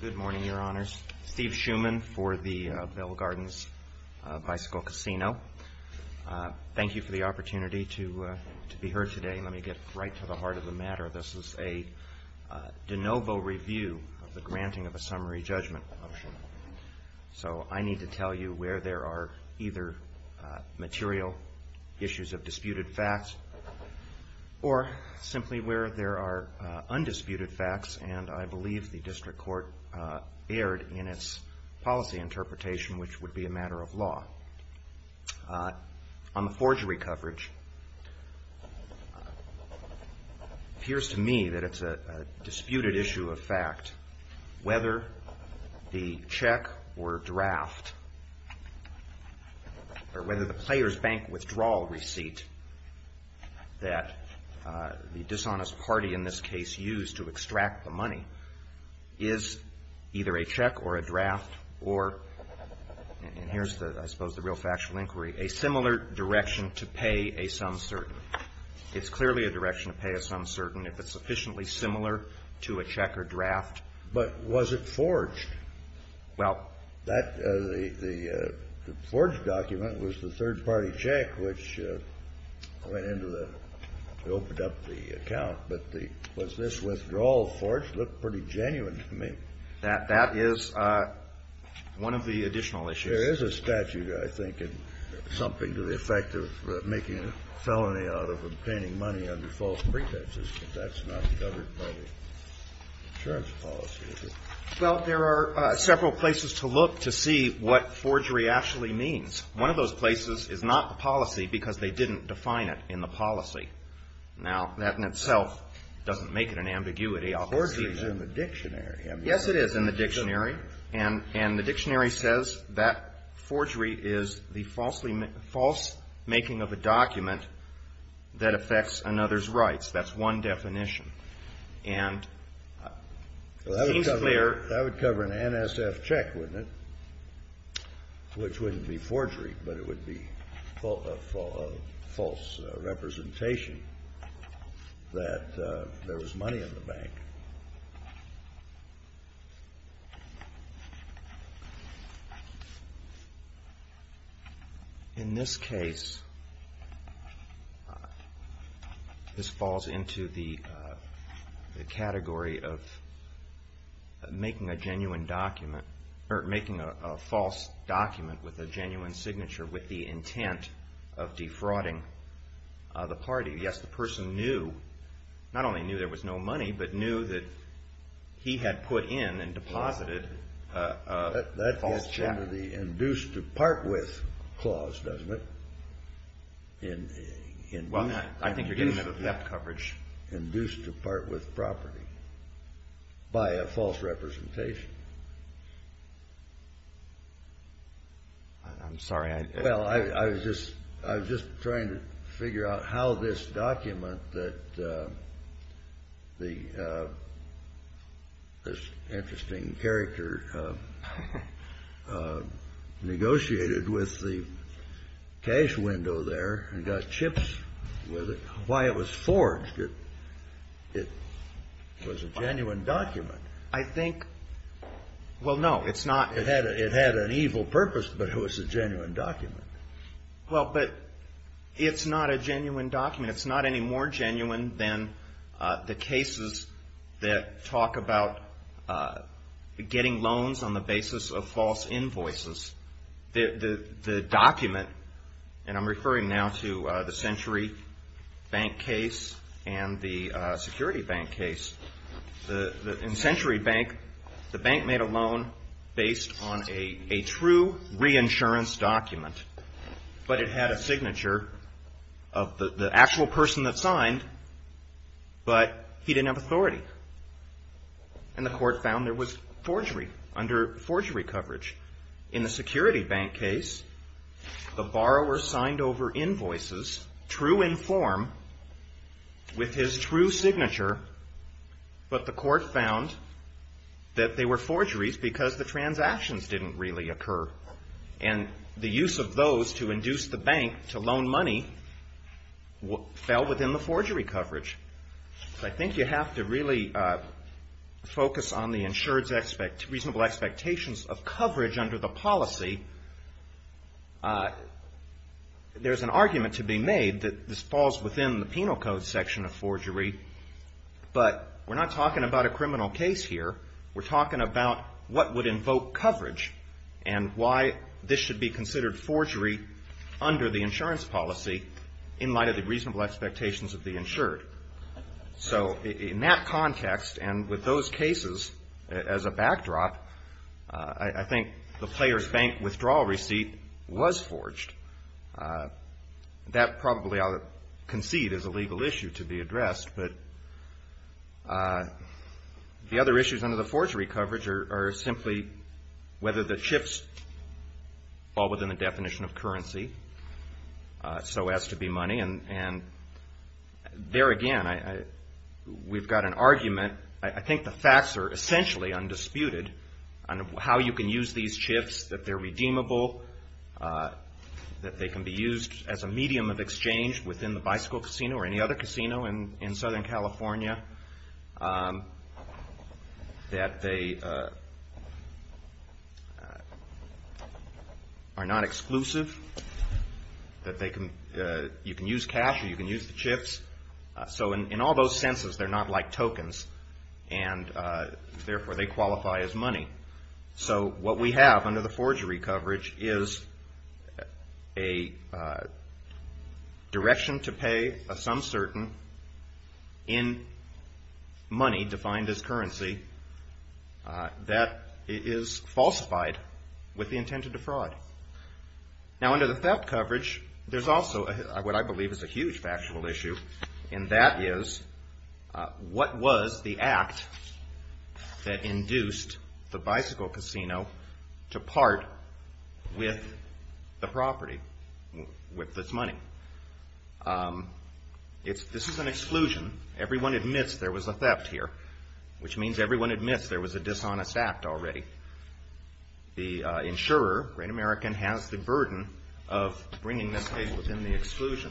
Good morning, Your Honors. Steve Schuman for the Bell Gardens Bicycle Casino. Thank you for the opportunity to be heard today. Let me get right to the heart of the matter. This is a de novo review of the granting of a summary judgment motion. So I need to tell you where there are either material issues of disputed facts or simply where there are undisputed facts, and I believe the district court erred in its policy interpretation, which would be a matter of law. On the forgery coverage, it appears to me that it's a disputed issue of fact whether the check or draft or whether the player's bank withdrawal receipt that the dishonest party in this case used to extract the money is either a check or a draft or, and here's the, I suppose the real factual inquiry, a similar direction to pay a sum certain. It's clearly a direction to pay a sum certain if it's sufficiently similar to a check or draft. But was it forged? Well, that, the forged document was the third-party check, which went into the, opened up the account, but the, was this withdrawal forged looked pretty genuine to me. That is one of the additional issues. There is a statute, I think, in something to the effect of making a felony out of obtaining money under false pretenses, but that's not covered by the insurance policy, is it? Well, there are several places to look to see what forgery actually means. One of those places is not the policy because they didn't define it in the policy. Now, that in itself doesn't make it an ambiguity. Forgery is in the dictionary. Yes, it is in the dictionary. And the dictionary says that forgery is the false making of a document that affects another's rights. That's one definition. And it seems clear. Well, that would cover an NSF check, wouldn't it? Which wouldn't be forgery, but it would be false representation that there was money in the bank. In this case, this falls into the category of making a genuine document or making a false document with a genuine signature with the intent of defrauding the party. Yes, the person knew, not only knew there was no money, but knew that he had put in and deposited a false check. That gets into the induced to part with clause, doesn't it? Well, I think you're getting to the theft coverage. Induced to part with property by a false representation. I'm sorry. Well, I was just trying to figure out how this document that this interesting character negotiated with the cash window there and got chips with it, why it was forged, it was a genuine document. I think, well, no, it's not. It had an evil purpose, but it was a genuine document. Well, but it's not a genuine document. It's not any more genuine than the cases that talk about getting loans on the basis of false invoices. The document, and I'm referring now to the Century Bank case and the Security Bank case, in Century Bank, the bank made a loan based on a true reinsurance document, but it had a signature of the actual person that signed, but he didn't have authority. And the court found there was forgery under forgery coverage. In the Security Bank case, the borrower signed over invoices, true in form, with his true signature, but the court found that they were forgeries because the transactions didn't really occur, and the use of those to induce the bank to loan money fell within the forgery coverage. So I think you have to really focus on the insured's reasonable expectations of coverage under the policy. There's an argument to be made that this falls within the penal code section of forgery, but we're not talking about a criminal case here. We're talking about what would invoke coverage and why this should be considered forgery under the insurance policy in light of the reasonable expectations of the insured. So in that context, and with those cases as a backdrop, I think the player's bank withdrawal receipt was forged. That probably I'll concede is a legal issue to be addressed, but the other issues under the forgery coverage are simply whether the chips fall within the definition of currency, so as to be Again, we've got an argument. I think the facts are essentially undisputed on how you can use these chips, that they're redeemable, that they can be used as a medium of exchange within the bicycle casino or any other casino in Southern California, that they are not exclusive, that you can use cash or you So in all those senses, they're not like tokens, and therefore they qualify as money. So what we have under the forgery coverage is a direction to pay of some certain in money defined as currency that is falsified with the intent to defraud. Now under the theft coverage, there's also what I believe is a huge factual issue, and that is what was the act that induced the bicycle casino to part with the property, with this money? This is an exclusion. Everyone admits there was a theft here, which means everyone admits there was a dishonest act already. The insurer, Great American, has the burden of bringing this case within the exclusion.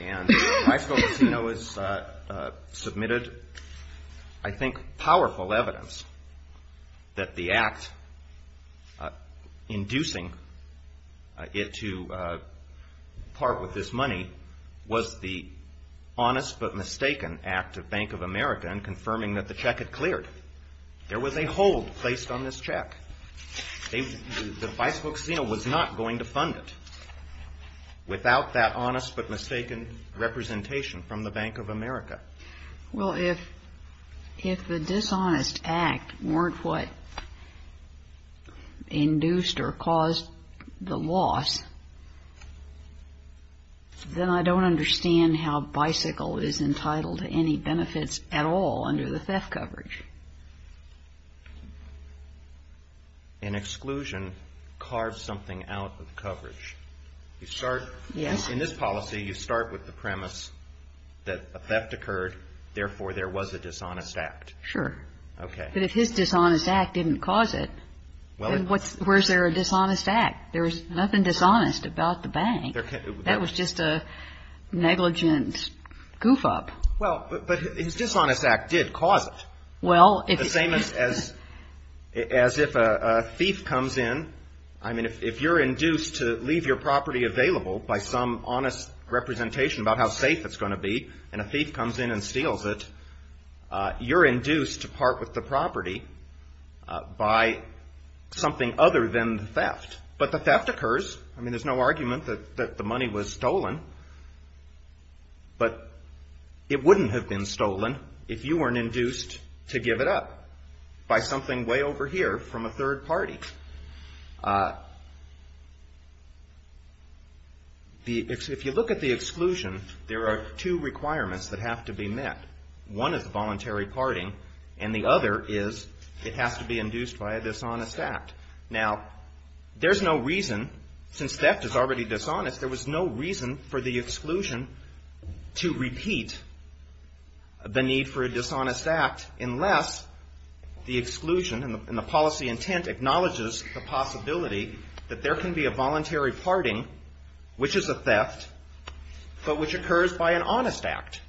And bicycle casino has submitted, I think, powerful evidence that the act inducing it to part with this money was the honest but mistaken act of Bank of America in confirming that the check had There was a hold placed on this check. The bicycle casino was not going to fund it without that honest but mistaken representation from the Bank of America. Well, if the dishonest act weren't what induced or caused the loss, then I don't understand how bicycle is entitled to any benefits at all under the theft coverage. An exclusion carves something out of coverage. You start, in this policy, you start with the premise that a theft occurred, therefore there was a dishonest act. Sure. Okay. But if his dishonest act didn't cause it, then where's there a dishonest act? There was nothing dishonest about the bank. That was just a negligent goof-up. Well, but his dishonest act did cause it. Well, it's the same as if a thief comes in, I mean, if you're induced to leave your property available by some honest representation about how safe it's going to be, and a thief comes in and steals it, you're induced to part with the property by something other than the theft. But the theft occurs, I mean, there's no argument that the money was stolen, but it wouldn't have been stolen if you weren't induced to give it up by something way over here from a third party. If you look at the exclusion, there are two requirements that have to be met. One is voluntary parting, and the other is it has to be induced by a dishonest act. Now, there's no reason, since theft is already dishonest, there was no reason for the exclusion to repeat the need for a dishonest act unless the exclusion and the policy intent acknowledges the possibility that there can be a voluntary parting, which is a theft, but which occurs by an honest act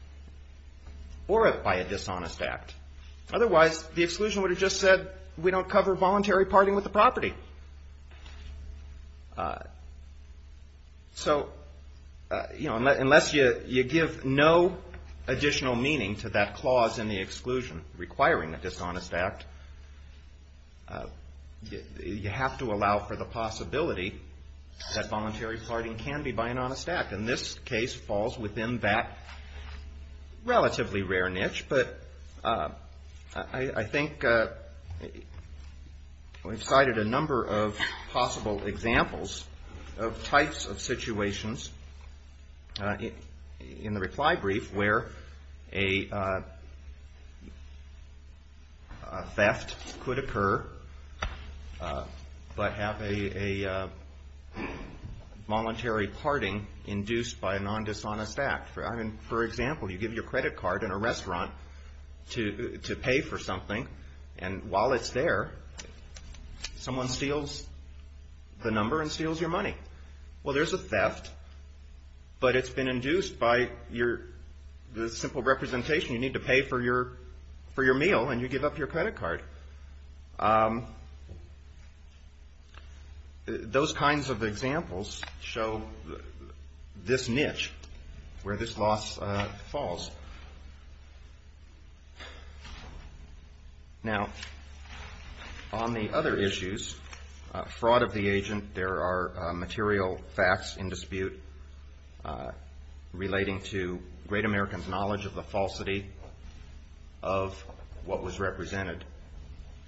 or by a dishonest act. Otherwise, the exclusion would have just said, we don't cover voluntary parting with the property. So, you know, unless you give no additional meaning to that clause in the exclusion requiring a dishonest act, you have to allow for the possibility that voluntary parting can be by an honest act. And this case falls within that relatively rare niche, but I think we've cited a number of possible examples of types of dishonest act. For example, you give your credit card in a restaurant to pay for something, and while it's there, someone steals the number and steals your money. Well, there's a theft, but it's been induced by the simple representation. You need to pay for your meal, and you give up your credit card. Those kinds of examples show this niche where this clause falls. Now, on the other issues, fraud of the agent, there are material facts in dispute relating to great Americans' knowledge of the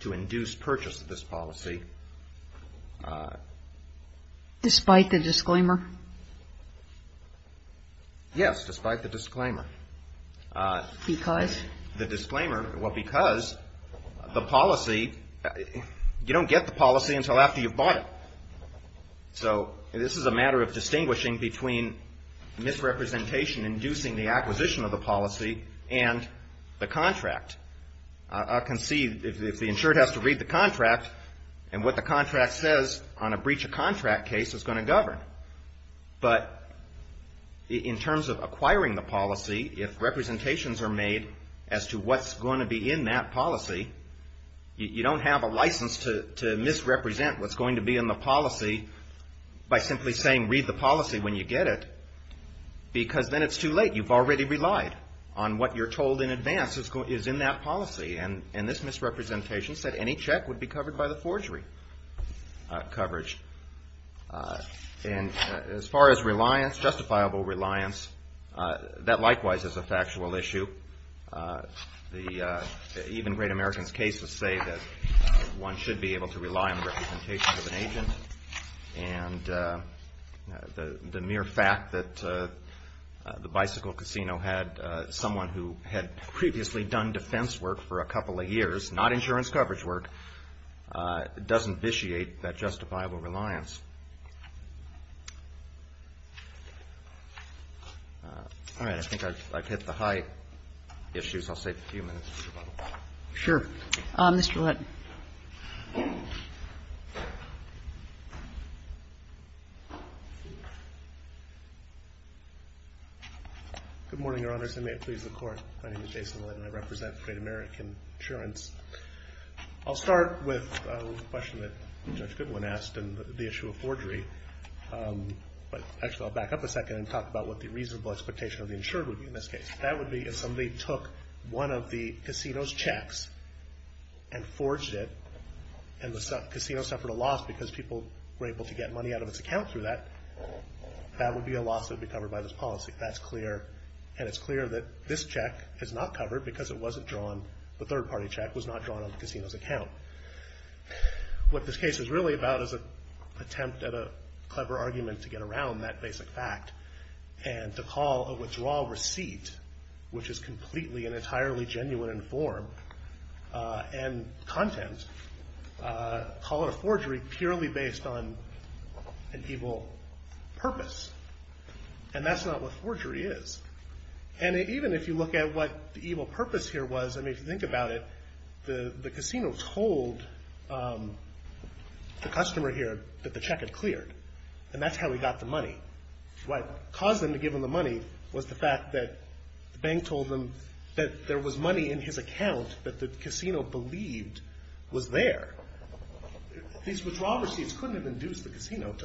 to induce purchase of this policy. Despite the disclaimer? Yes, despite the disclaimer. Because? The disclaimer, well, because the policy, you don't get the policy until after you've bought it. So this is a matter of distinguishing between misrepresentation inducing the acquisition of the policy and the contract. I can see if the insured has to read the contract, and what the contract says on a breach of contract case is going to govern. But in terms of acquiring the policy, if representations are made as to what's going to be in that policy, you don't have a license to misrepresent what's going to be in the policy by simply saying, read the policy when you get it, because then it's too late. You've already relied on what you're told in advance is in that policy. And this misrepresentation said any check would be covered by the forgery coverage. And as far as reliance, justifiable reliance, that likewise is a factual issue. The even great Americans' cases say that one should be able to rely on the representation of an agent. And the mere fact that the bicycle casino had someone who had previously done defense work for a couple of years, not insurance coverage work, doesn't vitiate that justifiable reliance. All right. I think I've hit the high issues. I'll save a few minutes for rebuttal. Sure. Mr. Lytton. Good morning, Your Honors, and may it please the Court. My name is Jason Lytton. I represent Great American Insurance. I'll start with a question that Judge Goodwin asked on the issue of forgery. But actually, I'll back up a second and talk about what the reasonable expectation of the insured would be in this case. That would be if somebody took one of the casino's checks and forged it and the casino suffered a loss because people were able to get money out of its account through that, that would be a loss that would be covered by this policy. That's clear. And it's clear that this check is not covered because it wasn't drawn, the third-party check was not drawn on the casino's account. What this case is really about is an attempt at a clever argument to get around that basic fact and to call a withdrawal receipt, which is completely and entirely genuine in form and content, call it a forgery purely based on an evil purpose, and that's not what forgery is. And even if you look at what the evil purpose here was, I mean, if you think about it, the casino told the customer here that the check had cleared, and that's how he got the money. What caused them to give him the money was the fact that the bank told them that there was money in his account that the casino believed was there. These withdrawal receipts couldn't have induced the casino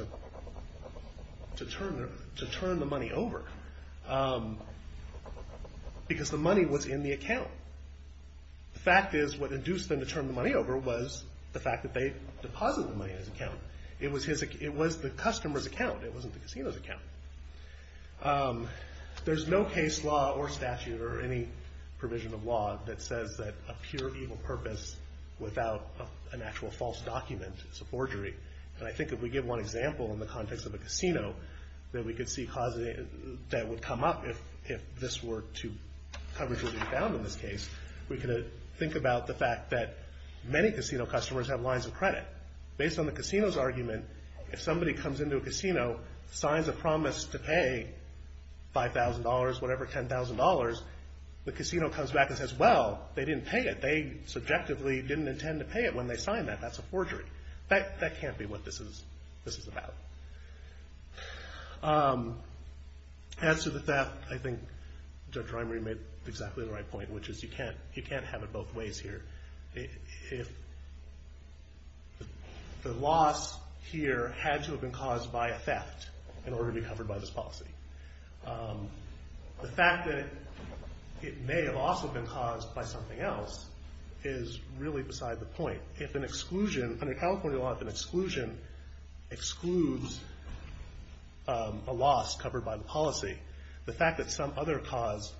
to turn the money over because the money was in the account. The fact is what induced them to turn the money over was the fact that they deposited the money in his account. It was the customer's account, it wasn't the casino's account. There's no case law or statute or any provision of law that says that a pure evil purpose without an actual false document is a forgery. And I think if we give one example in the context of a casino that we could see that would come up if this were to be found in this case, we could think about the fact that many casino customers have lines of credit. Based on the casino's argument, if somebody comes into a casino, signs a promise to pay $5,000, whatever, $10,000, the casino comes back and says, well, they didn't pay it, they subjectively didn't intend to pay it when they signed that, that's a forgery. That can't be what this is about. As to the theft, I think Judge Reimer made exactly the right point, which is you can't have it both ways here. If the loss here had to have been caused by a theft in order to be covered by this policy. The fact that it may have also been caused by something else is really beside the point. If an exclusion, under California law, if an exclusion excludes a loss covered by the policy, the fact that some other cause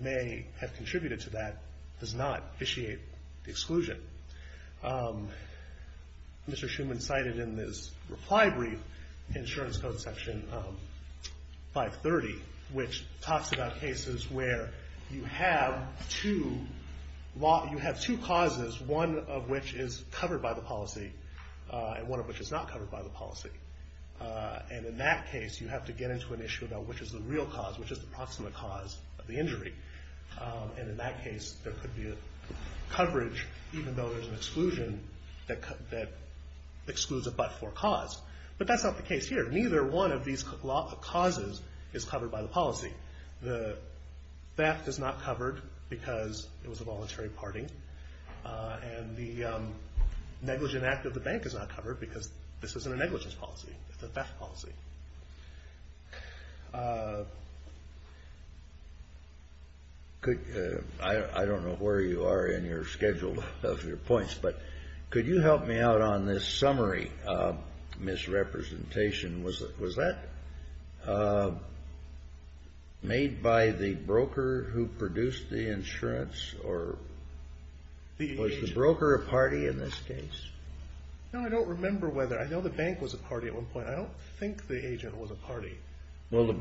may have contributed to that does not initiate the exclusion. Mr. Schuman cited in this reply brief, Insurance Code Section 530, which talks about cases where you have two causes, one of which is covered by the policy and one of which is not covered by the policy. In that case, you have to get into an issue about which is the real cause, which is the proximate cause of the injury. In that case, there could be a coverage, even though there's an exclusion, that excludes a but-for cause. But that's not the case here. Neither one of these causes is covered by the policy. The theft is not covered because it was a voluntary party. The negligent act of the bank is not covered because this isn't a negligence policy. It's a theft policy. I don't know where you are in your schedule of your points, but could you help me out on this summary misrepresentation? Was that made by the broker who produced the insurance, or was the broker a party in this case? No, I don't remember whether. I know the bank was a party at one point. I don't think the agent was a party. What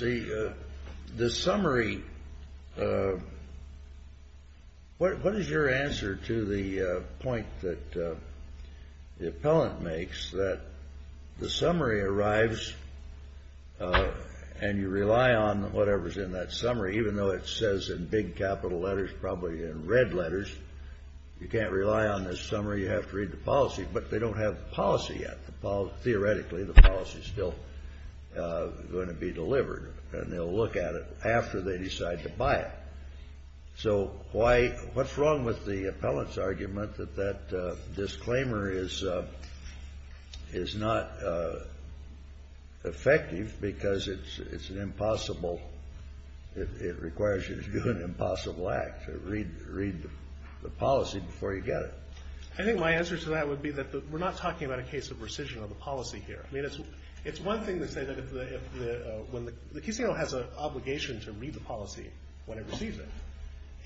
is your answer to the point that the appellant makes that the summary arrives and you rely on whatever's in that summary, even though it says in big capital letters, probably in red letters, you can't rely on this summary, you have to read the policy, but they don't have the policy yet. Theoretically, the policy's still going to be delivered, and they'll look at it after they decide to buy it. So what's wrong with the appellant's argument that that disclaimer is not effective because it's an impossible it requires you to do an impossible act, to read the policy before you get it? I think my answer to that would be that we're not talking about a case of rescission of the policy here. I mean, it's one thing to say that if the case has an obligation to read the policy when it receives it,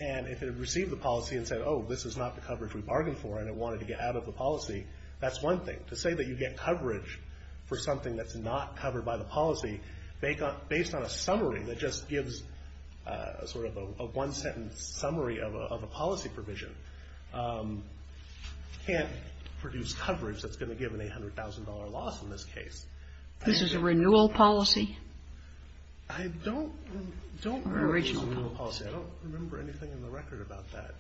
and if it received the policy and said, oh, this is not the coverage we bargained for and it wanted to get out of the policy, that's one thing. To say that you get coverage for something that's not covered by the policy based on a summary that just gives a one-sentence summary of a policy provision can't produce coverage that's going to give an $800,000 loss in this case. This is a renewal policy? I don't remember anything in the record about that.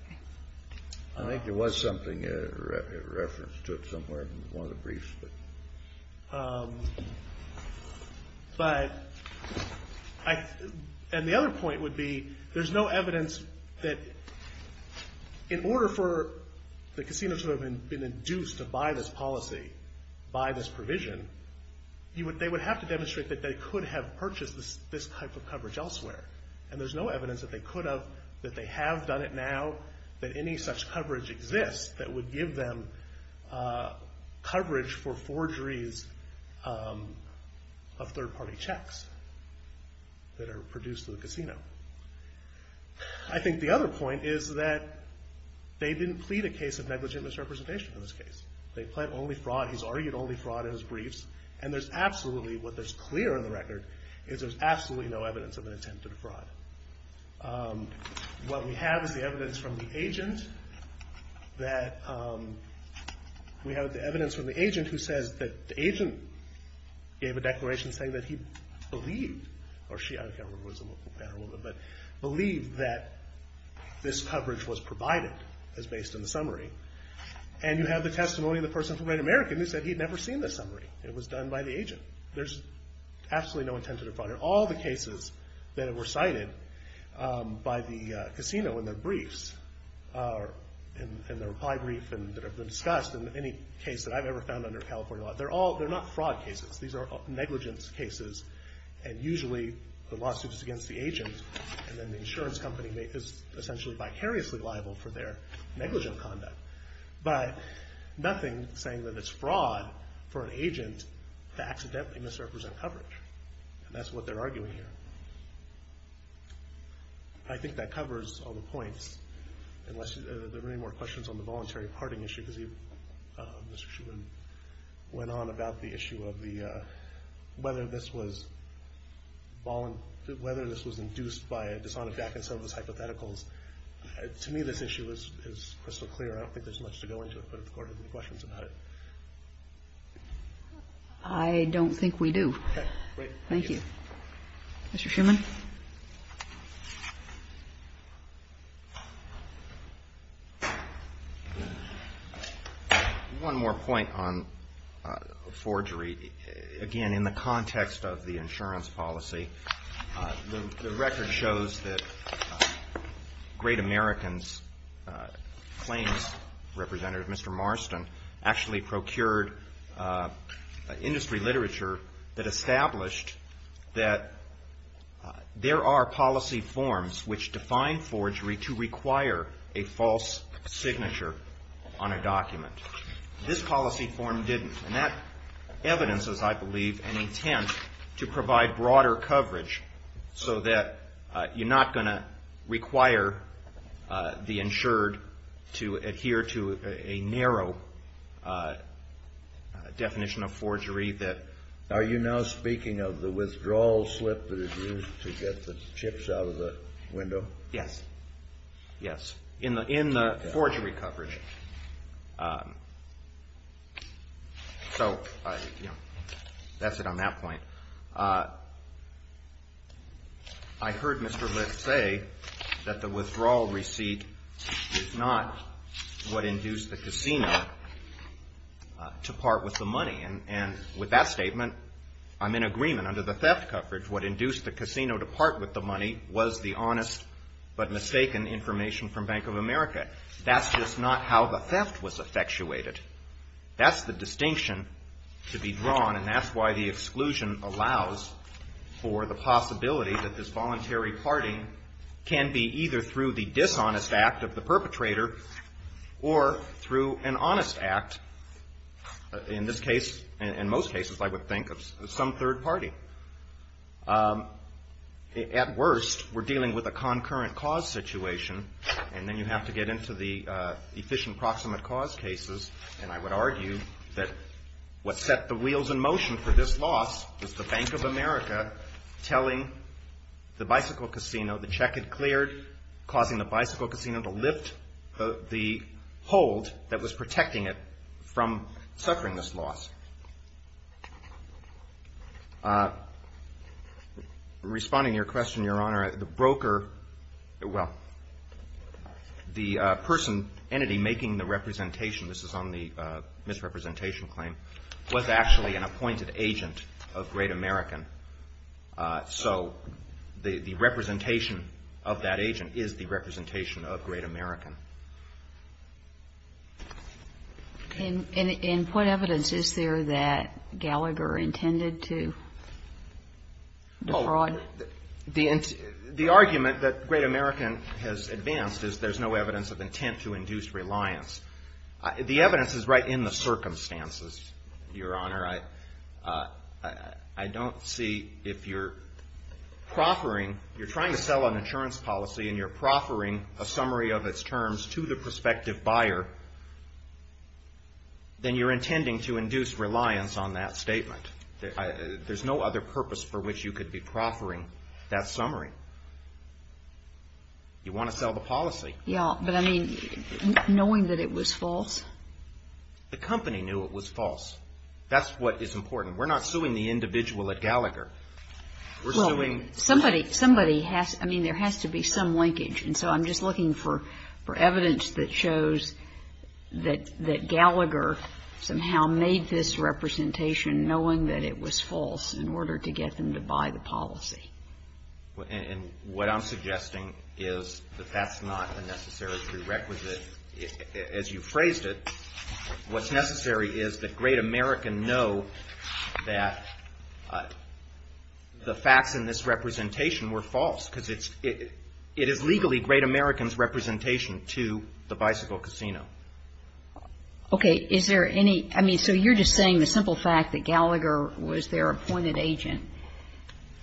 I think there was something, a reference to it somewhere in one of the briefs. And the other point would be there's no evidence that in order for the casino to have been induced to buy this policy, buy this provision they would have to demonstrate that they could have purchased this type of coverage elsewhere. And there's no evidence that they could have, that they have done it now, that any such coverage exists that would give them coverage for forgeries of third-party checks that are produced in the casino. I think the other point is that they didn't plead a case of negligent misrepresentation in this case. They pled only fraud. He's argued only fraud in his briefs. And there's absolutely, what is clear in the record is there's absolutely no evidence of an attempted fraud. What we have is the evidence from the agent that we have the evidence from the agent who says that the agent gave a declaration saying that he believed, or she, I don't care whether it was a man or a woman, but believed that this coverage was provided as based on the summary. And you have the testimony of the person from Red American who said he'd never seen the summary. It was done by the agent. There's absolutely no attempted fraud. All the cases that were cited by the casino in their briefs, in their reply brief and that have been discussed in any case that I've ever found under California law, they're not fraud cases. These are negligence cases. And usually the lawsuit is against the agent and then the insurance company is essentially vicariously liable for their negligent conduct. But nothing saying that it's fraud for an agent to accidentally misrepresent coverage. And that's what they're arguing here. I think that covers all the points. Unless there are any more questions on the voluntary parting issue, because Mr. Shuman went on about the issue of whether this was induced by a dishonest back and some of those hypotheticals. To me, this issue is crystal clear. I don't think there's much to go into it, but if the Court has any questions about it. I don't think we do. Okay. Great. Thank you. Mr. Shuman? One more point on forgery. Again, in the context of the insurance policy, the record shows that Great American's claims representative, Mr. Marston, actually procured industry literature that established that there are policy forms which define forgery to require a false signature on a document. This policy form didn't. And that evidence is, I believe, an intent to provide broader coverage so that you're not going to require the insured to adhere to a narrow definition of forgery. Are you now speaking of the withdrawal slip that is used to get the chips out of the window? Yes. In the forgery coverage. That's it on that point. I heard Mr. Marston say that the withdrawal receipt is not what induced the casino to part with the money. And with that statement, I'm in agreement. Under the theft coverage, what induced the casino to part with the money was the honest but mistaken information from Bank of America. That's just not how the theft was effectuated. That's the distinction to be drawn, and that's why the exclusion allows for the possibility that this voluntary parting can be either through the dishonest act of the perpetrator or through an honest act, in this case, and most cases, I would think, of some third party. At worst, we're dealing with a concurrent cause situation, and then you have to get into the efficient proximate cause cases. And I would argue that what set the wheels in motion for this loss was the Bank of America telling the bicycle casino the check had cleared, causing the bicycle casino to lift the hold that was protecting it from suffering this loss. Responding to your question, Your Honor, the broker, well, the person, entity making the representation, this is on the misrepresentation claim, was actually an appointed agent of Great American. So the representation of that agent is the representation of Great American. And in what evidence is there that Gallagher intended to defraud? Well, the argument that Great American has advanced is there's no evidence of intent to induce reliance. The evidence is right in the circumstances, Your Honor. I don't see if you're proffering, you're trying to sell an insurance policy and you're proffering a summary of its terms to the prospective buyer, then you're intending to sell the policy. Yeah, but I mean, knowing that it was false? The company knew it was false. That's what is important. We're not suing the individual at Gallagher. We're suing somebody. Somebody has, I mean, there has to be some linkage. And so I'm just looking for evidence that shows that Gallagher somehow made this representation knowing that it was false in order to get them to buy the policy. And what I'm suggesting is that that's not a necessary prerequisite. As you phrased it, what's necessary is that Great American know that the facts in this representation were false. Because it is legally Great American's representation to the bicycle casino. Okay. Is there any, I mean, so you're just saying the simple fact that Gallagher was their appointed agent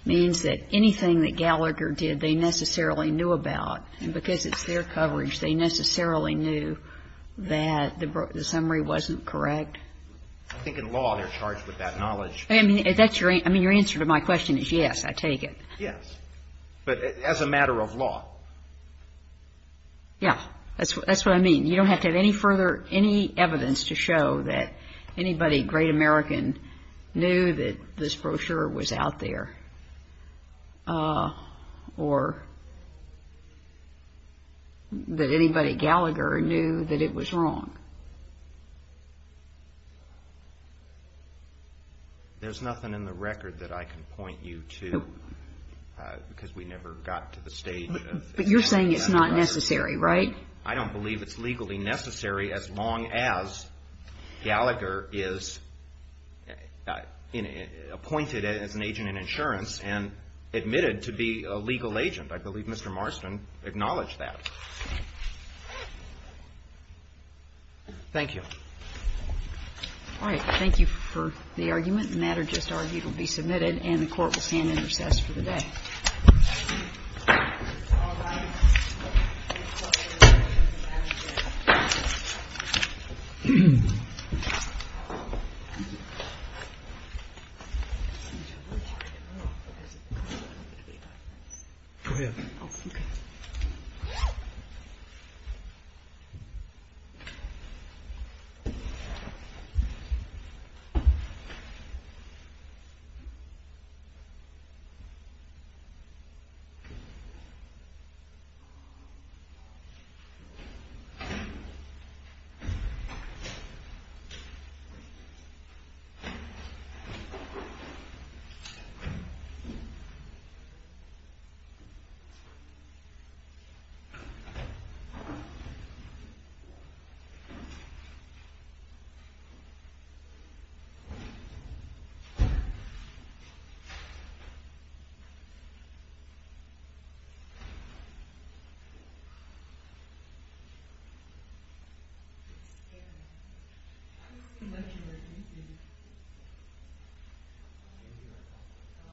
means that anything that Gallagher did they necessarily knew about. And because it's their coverage, they necessarily knew that the summary wasn't correct? I think in law they're charged with that knowledge. I mean, your answer to my question is yes, I take it. Yes, but as a matter of law. Yeah, that's what I mean. You don't have to have any further, any evidence to show that anybody Great American knew that this brochure was out there. Or that anybody Gallagher knew that it was wrong. There's nothing in the record that I can point you to because we never got to the stage. But you're saying it's not necessary, right? I don't believe it's legally necessary as long as Gallagher is appointed as an agent in insurance and admitted to be a legal agent. I believe Mr. Marston acknowledged that. Thank you. All right. Thank you for the argument. The matter just argued will be submitted and the Court will stand in recess for the day. Go ahead. Thank you. Thank you.